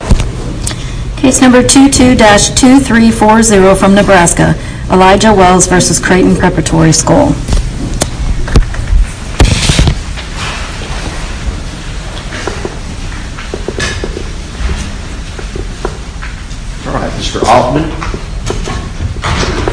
Case number 22-2340 from Nebraska, Elijah Wells v. Creighton Preparatory School. Alright, Mr. Altman.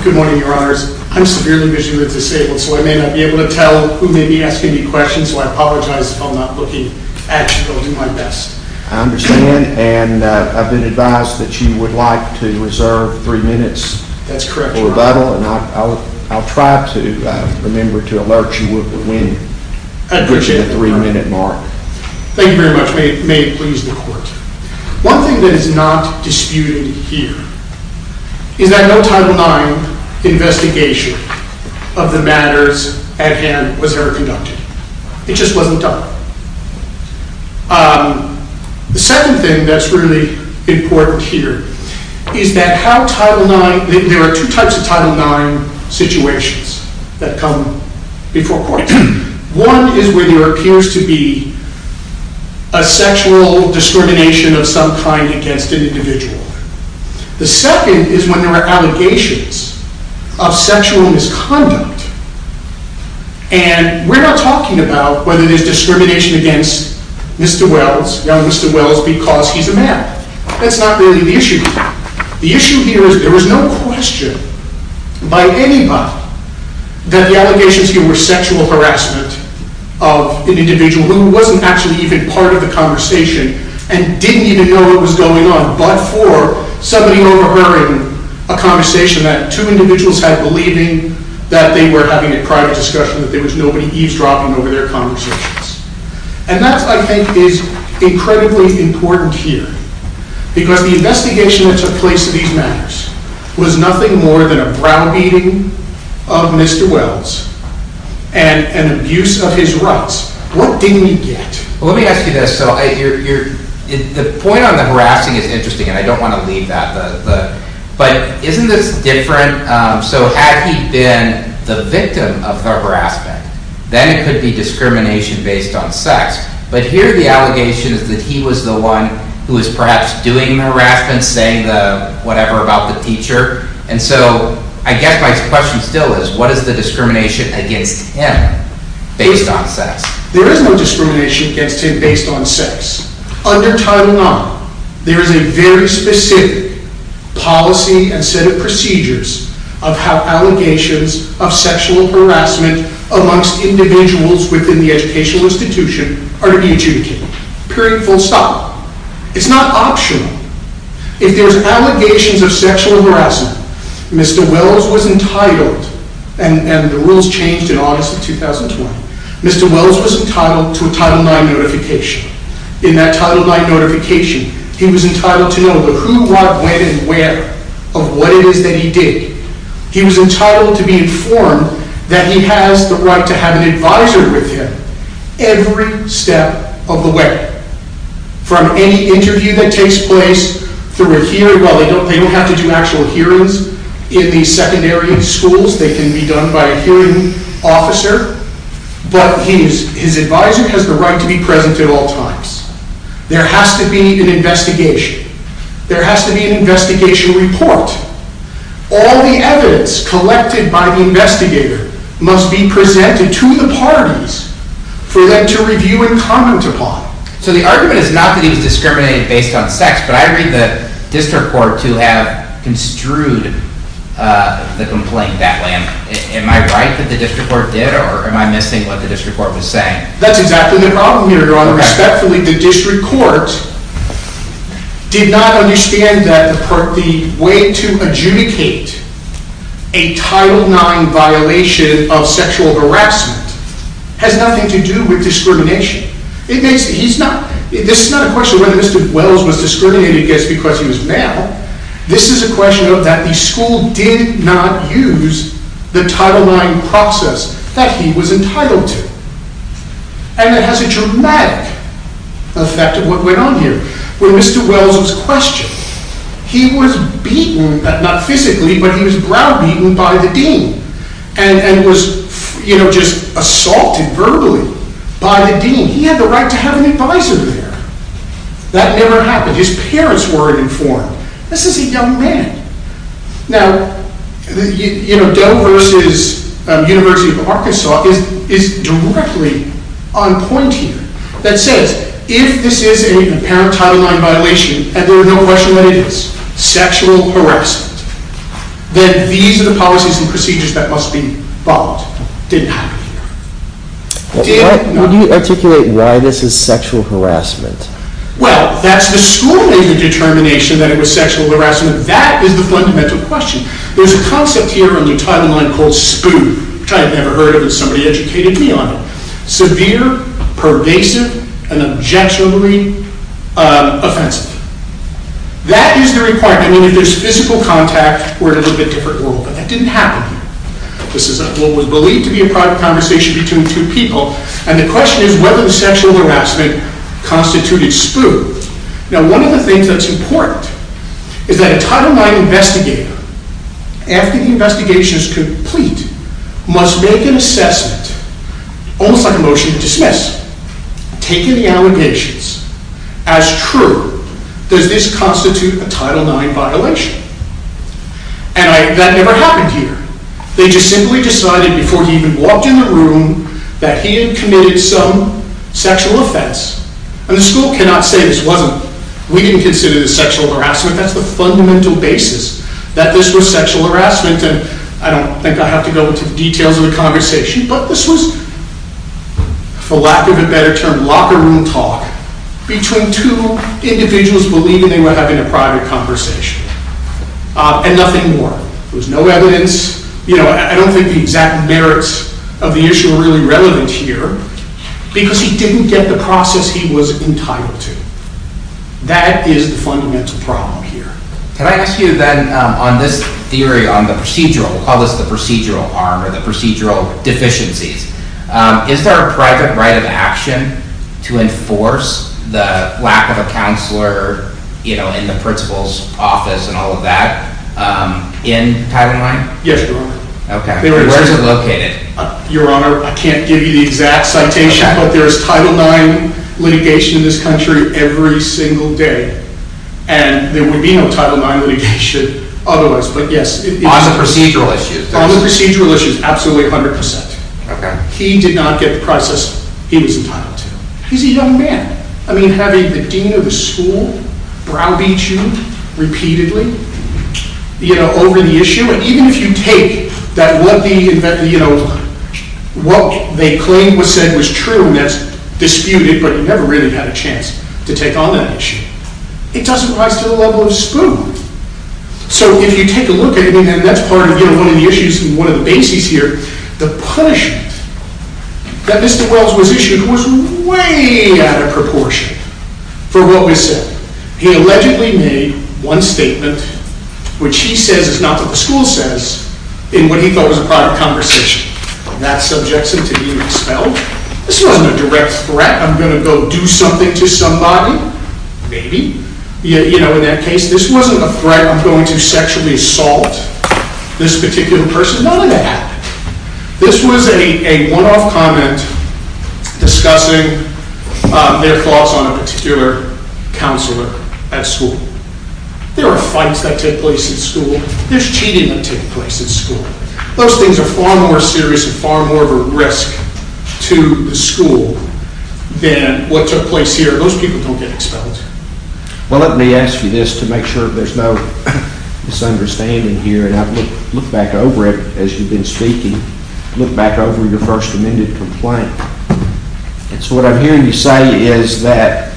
Good morning, your honors. I'm severely visually disabled, so I may not be able to tell who may be asking me questions, so I apologize if I'm not looking at you. I'll do my best. I understand, and I've been advised that you would like to reserve three minutes for rebuttal, and I'll try to remember to alert you with the three minute mark. Thank you very much. May it please the court. One thing that is not disputed here is that no Title IX investigation of the matters at hand was ever conducted. It just wasn't done. The second thing that's really important here is that there are two types of Title IX situations that come before court. One is when there appears to be a sexual discrimination of some kind against an individual. The second is when there are allegations of sexual misconduct, and we're not talking about whether there's discrimination against Mr. Wells, young Mr. Wells, because he's a man. That's not really the issue here. The issue here is there was no question by anybody that the allegations here were sexual harassment of an individual who wasn't actually even part of the conversation and didn't even know what was going on, but for somebody overhearing a conversation that two individuals had believing that they were having a private discussion, that there was nobody eavesdropping over their conversations. And that, I think, is incredibly important here, because the investigation that took place in these matters was nothing more than a browbeating of Mr. Wells and an abuse of his rights. What didn't he get? Let me ask you this. The point on the harassing is interesting, and I don't want to leave that, but isn't this different? So had he been the victim of the harassment, then it could be discrimination based on sex. But here the allegation is that he was the one who was perhaps doing the harassment, saying whatever about the teacher. And so I guess my question still is what is the discrimination against him based on sex? There is no discrimination against him based on sex. Under Title IX, there is a very specific policy and set of procedures of how allegations of sexual harassment amongst individuals within the educational institution are to be adjudicated. Period. Full stop. It's not optional. If there's allegations of sexual harassment, Mr. Wells was entitled, and the rules changed in August of 2020, Mr. Wells was entitled to a Title IX notification. And that Title IX notification, he was entitled to know the who, what, when, and where of what it is that he did. He was entitled to be informed that he has the right to have an advisor with him every step of the way. From any interview that takes place through a hearing, well they don't have to do actual hearings in the secondary schools, they can be done by a hearing officer. But his advisor has the right to be present at all times. There has to be an investigation. There has to be an investigation report. All the evidence collected by the investigator must be presented to the parties for them to review and comment upon. So the argument is not that he was discriminated based on sex, but I read the district court to have construed the complaint that way. Am I right that the district court did, or am I missing what the district court was saying? That's exactly the problem here, Your Honor. Respectfully, the district court did not understand that the way to adjudicate a Title IX violation of sexual harassment has nothing to do with discrimination. This is not a question of whether Mr. Wells was discriminated against because he was male. This is a question of that the school did not use the Title IX process that he was entitled to. And it has a dramatic effect of what went on here. When Mr. Wells was questioned, he was beaten, not physically, but he was browbeaten by the dean. And was, you know, just assaulted verbally by the dean. He had the right to have an advisor there. That never happened. His parents were informed. This is a young man. Now, you know, Dell versus University of Arkansas is directly on point here. That says, if this is an apparent Title IX violation, and there is no question that it is sexual harassment, then these are the policies and procedures that must be followed. Didn't happen here. Would you articulate why this is sexual harassment? Well, that's the school made the determination that it was sexual harassment. That's the fundamental question. There's a concept here under Title IX called SPOO, which I had never heard of, and somebody educated me on it. Severe, pervasive, and objectionably offensive. That is the requirement. I mean, if there's physical contact, we're in a little bit different world. But that didn't happen here. This is what was believed to be a private conversation between two people. And the question is whether the sexual harassment constituted SPOO. Now, one of the things that's important is that a Title IX investigator, after the investigation is complete, must make an assessment, almost like a motion to dismiss, taking the allegations as true. Does this constitute a Title IX violation? And that never happened here. They just simply decided, before he even walked in the room, that he had committed some sexual offense. And the school cannot say this wasn't, we didn't consider this sexual harassment. That's the fundamental basis that this was sexual harassment. And I don't think I have to go into the details of the conversation. But this was, for lack of a better term, locker room talk between two individuals believing they were having a private conversation. And nothing more. There was no evidence. You know, I don't think the exact merits of the issue are really relevant here. Because he didn't get the process he was entitled to. That is the fundamental problem here. Can I ask you then, on this theory on the procedural, we'll call this the procedural arm, or the procedural deficiencies. Is there a private right of action to enforce the lack of a counselor, you know, in the principal's office and all of that, in Title IX? Yes, Your Honor. Where is it located? Your Honor, I can't give you the exact citation, but there is Title IX litigation in this country every single day. And there would be no Title IX litigation otherwise. On the procedural issue? On the procedural issue, absolutely, 100%. He did not get the process he was entitled to. He's a young man. I mean, having the dean of the school browbeat you repeatedly, you know, over the issue. I mean, even if you take that, you know, what they claim was said was true, and that's disputed, but you never really had a chance to take on that issue. It doesn't rise to the level of a spoon. So if you take a look at it, and that's part of, you know, one of the issues, one of the bases here. The punishment that Mr. Wells was issued was way out of proportion for what was said. He allegedly made one statement, which he says is not what the school says, in what he thought was a private conversation. That subjects him to being expelled. This wasn't a direct threat. I'm going to go do something to somebody. Maybe. You know, in that case, this wasn't a threat. I'm going to sexually assault this particular person. None of that happened. This was a one-off comment discussing their thoughts on a particular counselor at school. There are fights that take place at school. There's cheating that takes place at school. Those things are far more serious and far more of a risk to the school than what took place here. Those people don't get expelled. Well, let me ask you this to make sure there's no misunderstanding here. Look back over it as you've been speaking. Look back over your first amended complaint. So what I'm hearing you say is that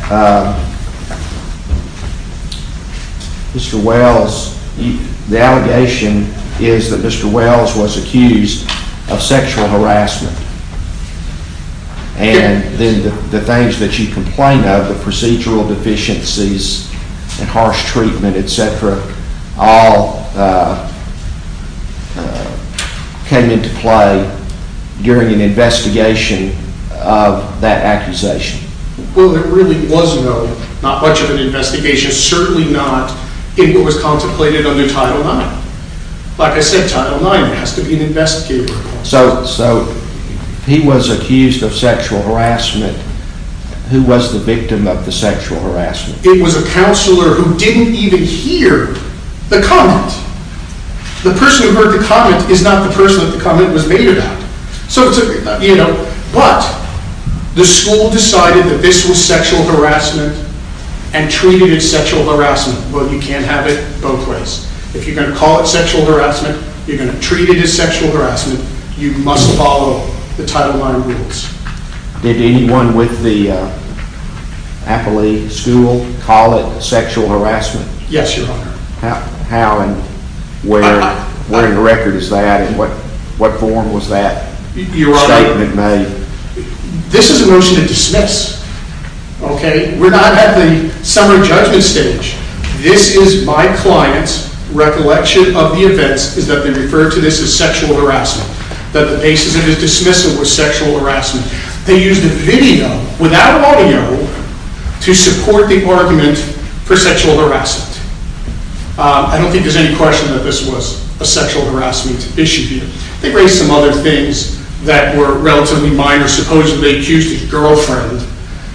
Mr. Wells, the allegation is that Mr. Wells was accused of sexual harassment. And then the things that you complained of, the procedural deficiencies and harsh treatment, etc., all came into play during an investigation of that accusation. Well, there really was no, not much of an investigation. Certainly not in what was contemplated under Title IX. Like I said, Title IX has to be investigated. So he was accused of sexual harassment. Who was the victim of the sexual harassment? It was a counselor who didn't even hear the comment. The person who heard the comment is not the person that the comment was made about. But the school decided that this was sexual harassment and treated it as sexual harassment. Well, you can't have it both ways. If you're going to call it sexual harassment, you're going to treat it as sexual harassment. You must follow the Title IX rules. Did anyone with the Appalachian School call it sexual harassment? Yes, Your Honor. How and where in the record is that and what form was that statement made? This is a motion to dismiss, okay? We're not at the summary judgment stage. This is my client's recollection of the events is that they referred to this as sexual harassment. That the basis of his dismissal was sexual harassment. They used a video without audio to support the argument for sexual harassment. I don't think there's any question that this was a sexual harassment issue here. They raised some other things that were relatively minor. Supposedly they accused his girlfriend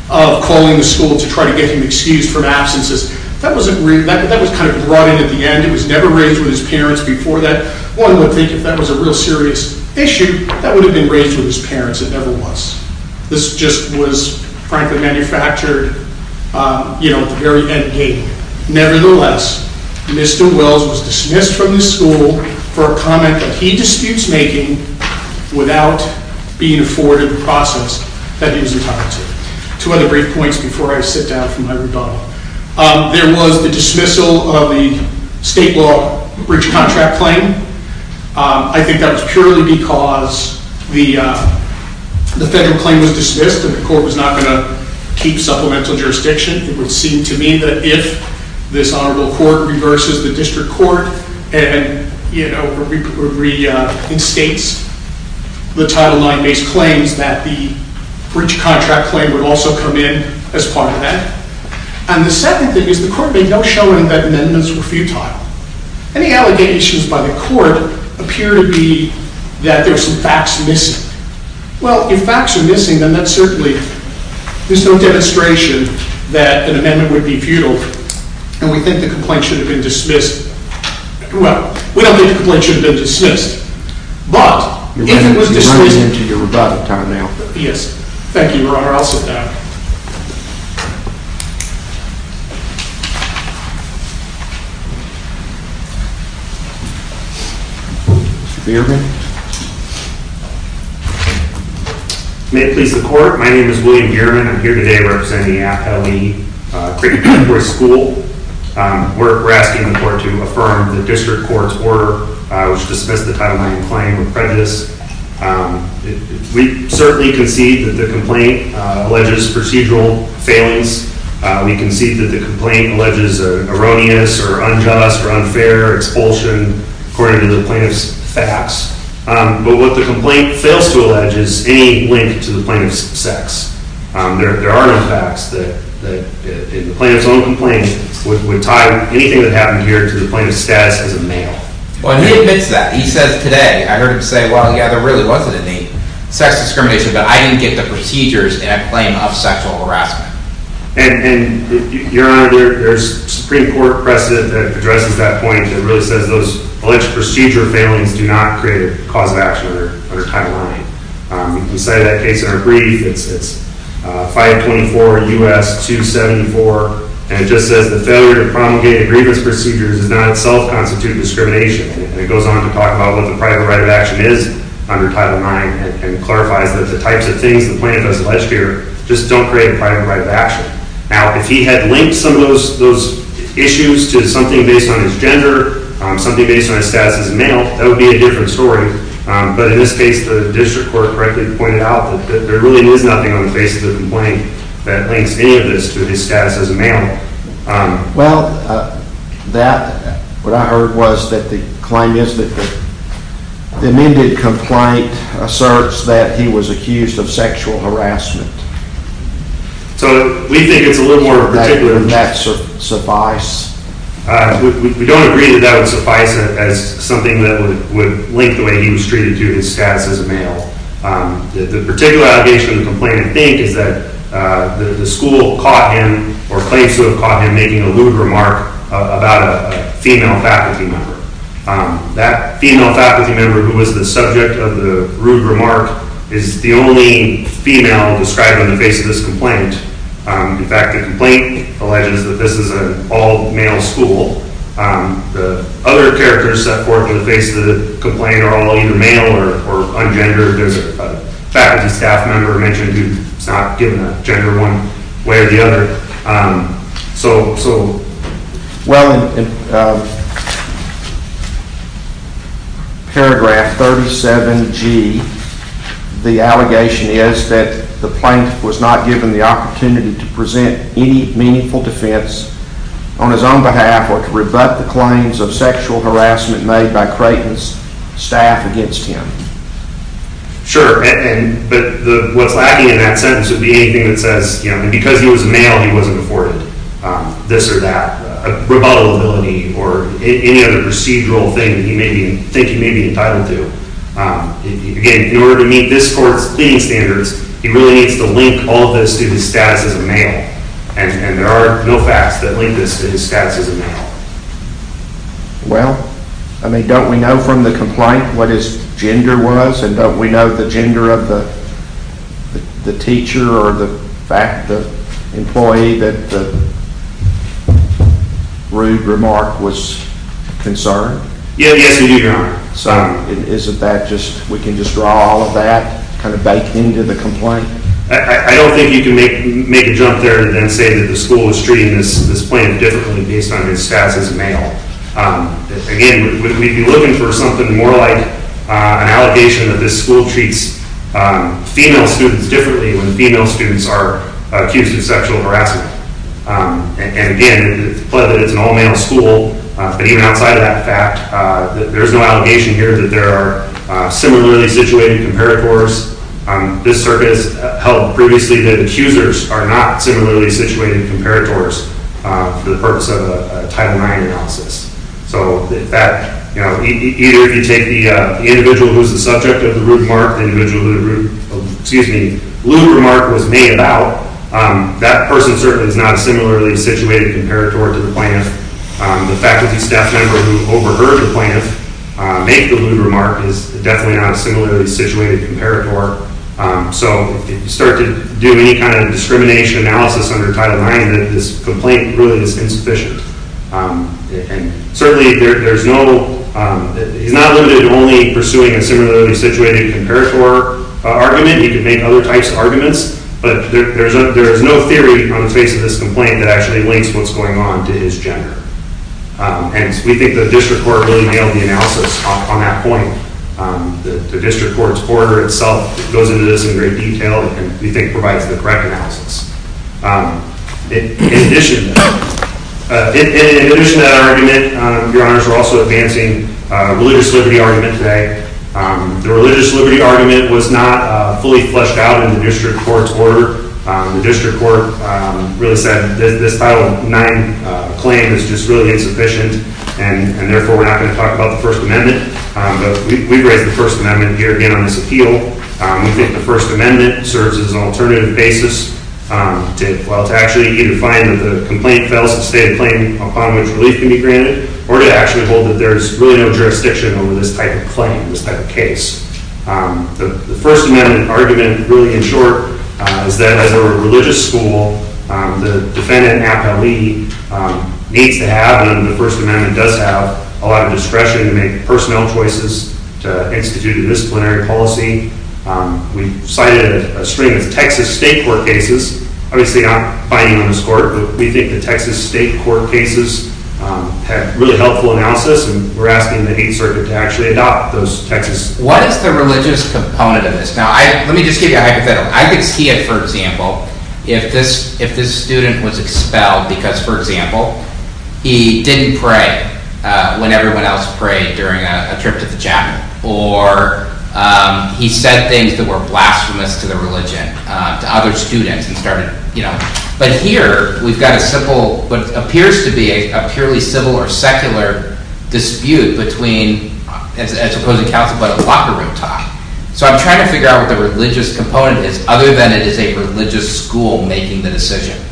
of calling the school to try to get him excused from absences. That was kind of brought in at the end. It was never raised with his parents before that. One would think if that was a real serious issue, that would have been raised with his parents. It never was. This just was, frankly, manufactured at the very end game. Nevertheless, Mr. Wells was dismissed from the school for a comment that he disputes making without being afforded the process that he was entitled to. Two other brief points before I sit down for my rebuttal. There was the dismissal of the state law breach contract claim. I think that was purely because the federal claim was dismissed. The court was not going to keep supplemental jurisdiction. It would seem to me that if this honorable court reverses the district court and reinstates the Title IX-based claims that the breach contract claim would also come in as part of that. And the second thing is the court made no showing that amendments were futile. Any allegations by the court appear to be that there are some facts missing. Well, if facts are missing, then there's no demonstration that an amendment would be futile. And we think the complaint should have been dismissed. Well, we don't think the complaint should have been dismissed. But, if it was dismissed... You're running into your rebuttal time now. Yes. Thank you, Your Honor. I'll sit down. Thank you. Mr. Gehrman? May it please the court, my name is William Gehrman. I'm here today representing the AFL-E Cricket Court School. We're asking the court to affirm the district court's order which dismissed the Title IX claim with prejudice. We certainly concede that the complaint alleges procedural failings. We concede that the complaint alleges erroneous or unjust or unfair expulsion according to the plaintiff's facts. But what the complaint fails to allege is any link to the plaintiff's sex. There are no facts. The plaintiff's own complaint would tie anything that happened here to the plaintiff's status as a male. Well, he admits that. He says today, I heard him say, well, yeah, there really wasn't any sex discrimination. But I didn't get the procedures in that claim of sexual harassment. And, Your Honor, there's a Supreme Court precedent that addresses that point. It really says those alleged procedural failings do not create a cause of action under Title IX. We cited that case in our brief. It's 524 U.S. 274. And it just says the failure to promulgate a grievance procedure does not itself constitute discrimination. And it goes on to talk about what the private right of action is under Title IX. And it clarifies that the types of things the plaintiff has alleged here just don't create a private right of action. Now, if he had linked some of those issues to something based on his gender, something based on his status as a male, that would be a different story. But in this case, the district court correctly pointed out that there really is nothing on the basis of the complaint that links any of this to his status as a male. Well, what I heard was that the claim is that the amended complaint asserts that he was accused of sexual harassment. So we think it's a little more particular. Would that suffice? We don't agree that that would suffice as something that would link the way he was treated to his status as a male. The particular allegation of the complaint, I think, is that the school caught him or claims to have caught him making a rude remark about a female faculty member. That female faculty member who was the subject of the rude remark is the only female described on the face of this complaint. In fact, the complaint alleges that this is an all-male school. The other characters set forth on the face of the complaint are all either male or ungendered. There's a faculty staff member mentioned who's not given a gender one way or the other. Well, in paragraph 37G, the allegation is that the plaintiff was not given the opportunity to present any meaningful defense on his own behalf or to rebut the claims of sexual harassment made by Creighton's staff against him. Sure, but what's lacking in that sentence would be anything that says, you know, because he was a male, he wasn't afforded this or that, a rebuttal ability, or any other procedural thing that you think he may be entitled to. Again, in order to meet this court's pleading standards, he really needs to link all of this to his status as a male, and there are no facts that link this to his status as a male. Well, I mean, don't we know from the complaint what his gender was, and don't we know the gender of the teacher or the employee that the rude remark was concerned? Yes, we do know. So, isn't that just, we can just draw all of that, kind of bake into the complaint? I don't think you can make a jump there and say that the school is treating this plaintiff differently based on his status as a male. Again, we'd be looking for something more like an allegation that this school treats female students differently when female students are accused of sexual harassment. And again, the plaintiff is an all-male school, but even outside of that fact, there's no allegation here that there are similarly situated comparators. This circuit has held previously that accusers are not similarly situated comparators for the purpose of a Title IX analysis. So, either you take the individual who's the subject of the rude remark, the individual who the rude remark was made about, that person certainly is not similarly situated comparator to the plaintiff. The faculty staff member who overheard the plaintiff make the rude remark is definitely not a similarly situated comparator. So, if you start to do any kind of discrimination analysis under Title IX, this complaint really is insufficient. Certainly, he's not limited to only pursuing a similarly situated comparator argument. He can make other types of arguments, but there is no theory on the face of this complaint that actually links what's going on to his gender. And we think the district court really nailed the analysis on that point. The district court's order itself goes into this in great detail and we think provides the correct analysis. In addition to that argument, your honors, we're also advancing a religious liberty argument today. The religious liberty argument was not fully fleshed out in the district court's order. The district court really said that this Title IX claim is just really insufficient and therefore we're not going to talk about the First Amendment. We've raised the First Amendment here again on this appeal. We think the First Amendment serves as an alternative basis to actually either find that the complaint fails to state a claim upon which relief can be granted, or to actually hold that there's really no jurisdiction over this type of claim, this type of case. The First Amendment argument really, in short, is that as a religious school, the defendant, an appellee, needs to have, and the First Amendment does have, a lot of discretion to make personnel choices, to institute a disciplinary policy. We cited a stream of Texas state court cases. Obviously, I'm not binding on this court, but we think the Texas state court cases have really helpful analysis and we're asking the Eighth Circuit to actually adopt those Texas... What is the religious component of this? Now, let me just give you a hypothetical. I could see it, for example, if this student was expelled because, for example, he didn't pray when everyone else prayed during a trip to the chapel, or he said things that were blasphemous to the religion to other students and started, you know... But here, we've got a simple, what appears to be a purely civil or secular dispute between, as opposed to counsel, but a locker room talk. So, I'm trying to figure out what the religious component is, other than it is a religious school making the decision.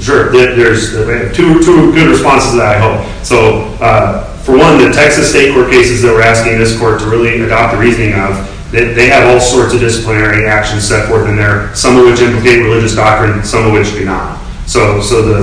Sure. There's two good responses to that, I hope. So, for one, the Texas state court cases that we're asking this court to really adopt the reasoning of, they have all sorts of disciplinary actions set forth in there, some of which implicate religious doctrine, some of which do not. So,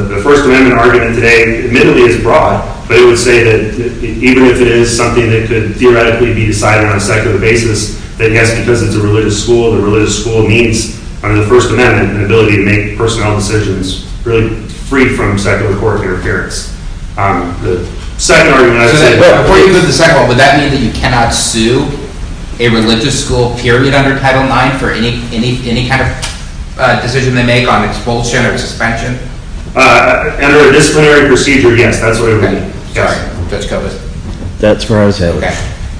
the First Amendment argument today, admittedly, is broad, but it would say that even if it is something that could theoretically be decided on a secular basis, that, yes, because it's a religious school, the religious school needs, under the First Amendment, an ability to make personal decisions, really free from secular court interference. The second argument I would say... Before you go to the second one, would that mean that you cannot sue a religious school, period, under Title IX for any kind of decision they make on expulsion or suspension? Under a disciplinary procedure, yes, that's what it would mean. Sorry, Judge Kovats. That's where I was headed.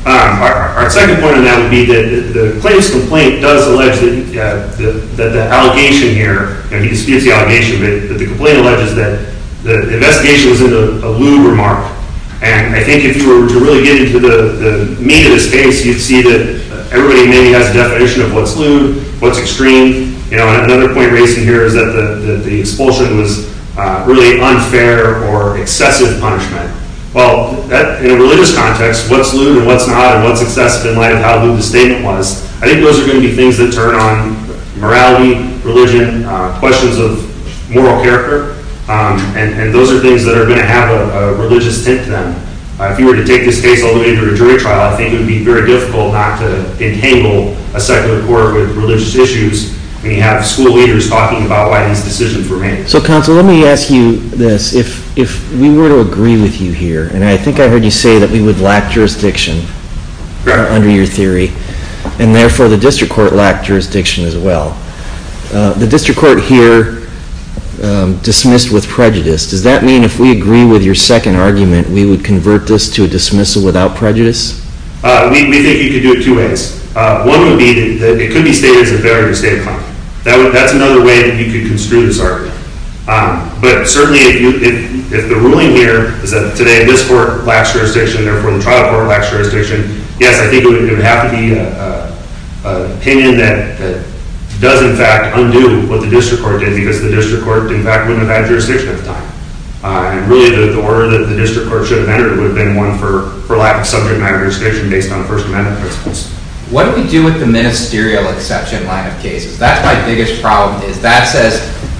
Our second point on that would be that the plaintiff's complaint does allege that the allegation here, and he disputes the allegation, but the complaint alleges that the investigation was in a lewd remark. And I think if you were to really get into the meat of this case, you'd see that everybody maybe has a definition of what's lewd, what's extreme. Another point raised in here is that the expulsion was really unfair or excessive punishment. Well, in a religious context, what's lewd and what's not, and what's excessive in light of how lewd the statement was, I think those are going to be things that turn on morality, religion, questions of moral character, and those are things that are going to have a religious tint to them. If you were to take this case all the way to a jury trial, I think it would be very difficult not to entangle a secular court with religious issues when you have school leaders talking about why these decisions were made. So, counsel, let me ask you this. If we were to agree with you here, and I think I heard you say that we would lack jurisdiction under your theory, and therefore the district court lacked jurisdiction as well, the district court here dismissed with prejudice. Does that mean if we agree with your second argument, we would convert this to a dismissal without prejudice? We think you could do it two ways. One would be that it could be stated as a barrier to state of conduct. That's another way that you could construe this argument. But certainly, if the ruling here is that today this court lacks jurisdiction, therefore the trial court lacks jurisdiction, yes, I think it would have to be an opinion that does in fact undo what the district court did because the district court in fact wouldn't have had jurisdiction at the time. Really, the order that the district court should have entered would have been one for lack of subject matter jurisdiction based on First Amendment principles. What do we do with the ministerial exception line of cases? That's my biggest problem. If that says,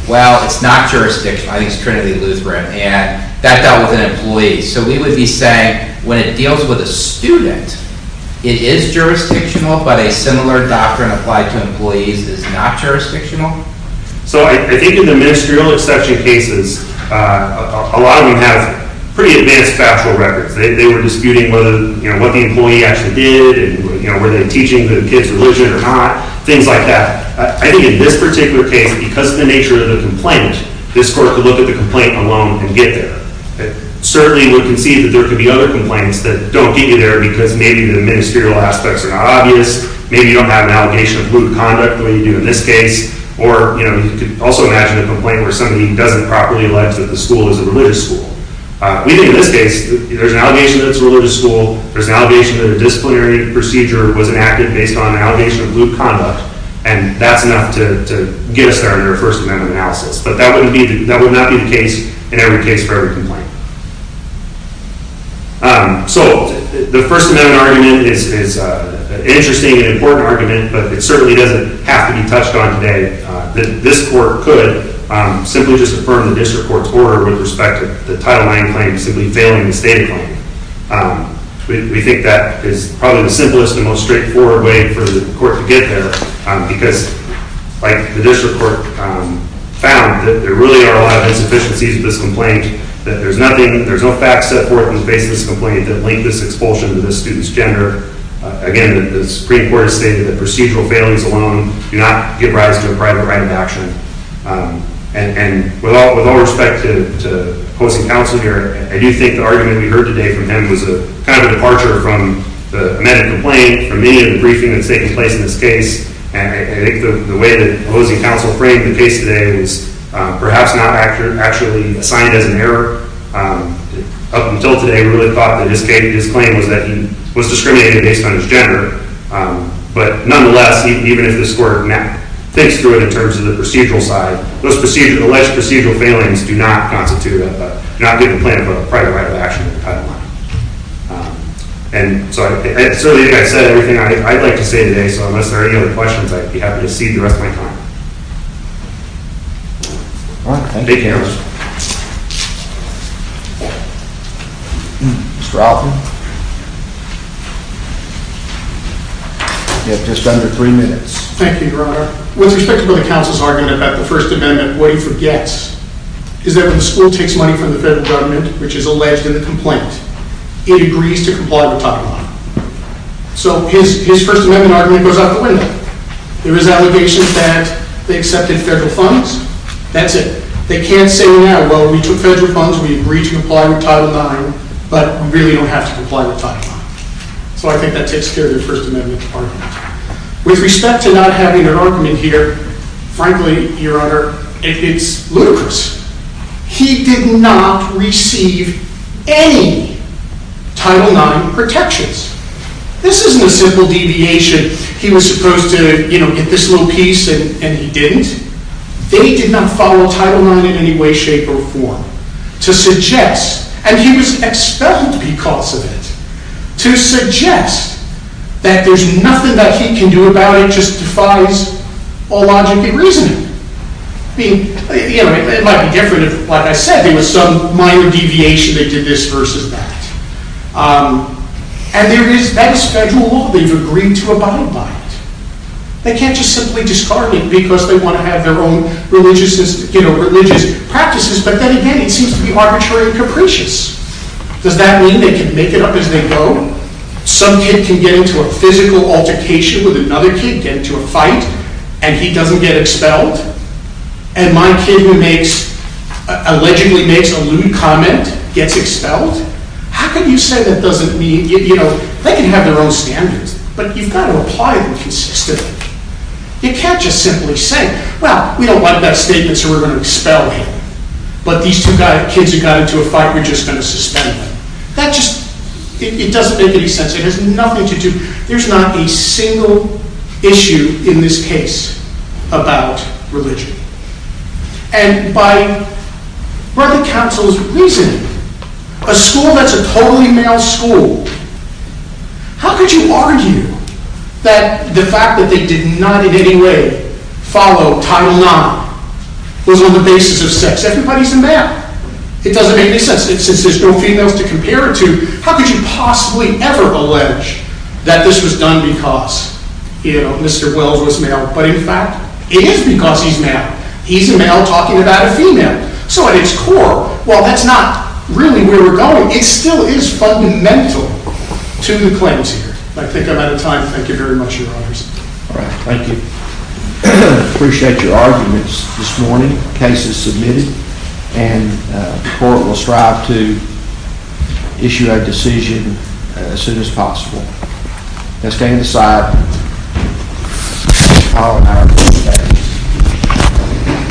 well, it's not jurisdictional, I think it's Trinity Lutheran, and that dealt with an employee, so we would be saying when it deals with a student, it is jurisdictional, but a similar doctrine applied to employees is not jurisdictional? So I think in the ministerial exception cases, a lot of them have pretty advanced factual records. They were disputing whether, you know, what the employee actually did, you know, were they teaching the kid's religion or not, things like that. I think in this particular case, because of the nature of the complaint, this court could look at the complaint alone and get there. It certainly would concede that there could be other complaints that don't get you there because maybe the ministerial aspects are not obvious, maybe you don't have an allegation of lewd conduct the way you do in this case, or, you know, you could also imagine a complaint where somebody doesn't properly allege that the school is a religious school. We think in this case, there's an allegation that it's a religious school, there's an allegation that a disciplinary procedure was enacted based on an allegation of lewd conduct, and that's enough to get us there in our First Amendment analysis. But that would not be the case in every case for every complaint. So the First Amendment argument is an interesting and important argument, but it certainly doesn't have to be touched on today. This court could simply just affirm the district court's order with respect to the Title IX claim simply failing the standing claim. We think that is probably the simplest and most straightforward way for the court to get there because, like the district court found, there really are a lot of insufficiencies with this complaint, that there's nothing, there's no facts set forth in the basis of this complaint that link this expulsion to this student's gender. Again, the Supreme Court has stated that procedural failings alone do not give rise to a private right of action. And with all respect to hosting counsel here, I do think the argument we heard today from him was kind of a departure from the amended complaint, from any of the briefing that's taken place in this case. And I think the way that hosting counsel framed the case today was perhaps not actually assigned as an error. Up until today, we really thought that his claim was that he was discriminated based on his gender. But nonetheless, even if this court now thinks through it in terms of the procedural side, those alleged procedural failings do not constitute a, do not give a plan for a private right of action in the Title IX. And so, like I said, everything I'd like to say today, so unless there are any other questions, I'd be happy to cede the rest of my time. Thank you. Mr. Alton. You have just under three minutes. Thank you, Your Honor. With respect to the counsel's argument about the First Amendment, what he forgets is that when the school takes money from the federal government, which is alleged in the complaint, it agrees to comply with Title IX. So his First Amendment argument goes out the window. There is an allegation that they accepted federal funds. That's it. They can't say now, well, we took federal funds, we agree to comply with Title IX, but we really don't have to comply with Title IX. So I think that takes care of the First Amendment argument. With respect to not having an argument here, frankly, Your Honor, it's ludicrous. He did not receive any Title IX protections. This isn't a simple deviation. He was supposed to, you know, get this little piece, and he didn't. They did not follow Title IX in any way, shape, or form. To suggest, and he was expelled because of it, to suggest that there's nothing that he can do about it just defies all logic and reasoning. I mean, you know, it might be different if, like I said, there was some minor deviation, they did this versus that. And there is, that is federal law. They've agreed to abide by it. They can't just simply discard it because they want to have their own religious practices. But then again, it seems to be arbitrary and capricious. Does that mean they can make it up as they go? Some kid can get into a physical altercation with another kid, get into a fight, and he doesn't get expelled? And my kid who allegedly makes a lewd comment gets expelled? How can you say that doesn't mean, you know, they can have their own standards, but you've got to apply them consistently. You can't just simply say, well, we don't want that statement, so we're going to expel him. But these two kids who got into a fight, we're just going to suspend them. That just, it doesn't make any sense. It has nothing to do, there's not a single issue in this case about religion. And by Brother Council's reasoning, a school that's a totally male school, how could you argue that the fact that they did not in any way follow Title IX was on the basis of sex? Everybody's a male. It doesn't make any sense. There's no females to compare it to. How could you possibly ever allege that this was done because, you know, it is because he's male. He's a male talking about a female. So at its core, well, that's not really where we're going. It still is fundamental to the claims here. I think I'm out of time. Thank you very much, Your Honors. All right, thank you. I appreciate your arguments this morning. The case is submitted, and the court will strive to issue a decision as soon as possible. Let's stand aside. Thank you very much.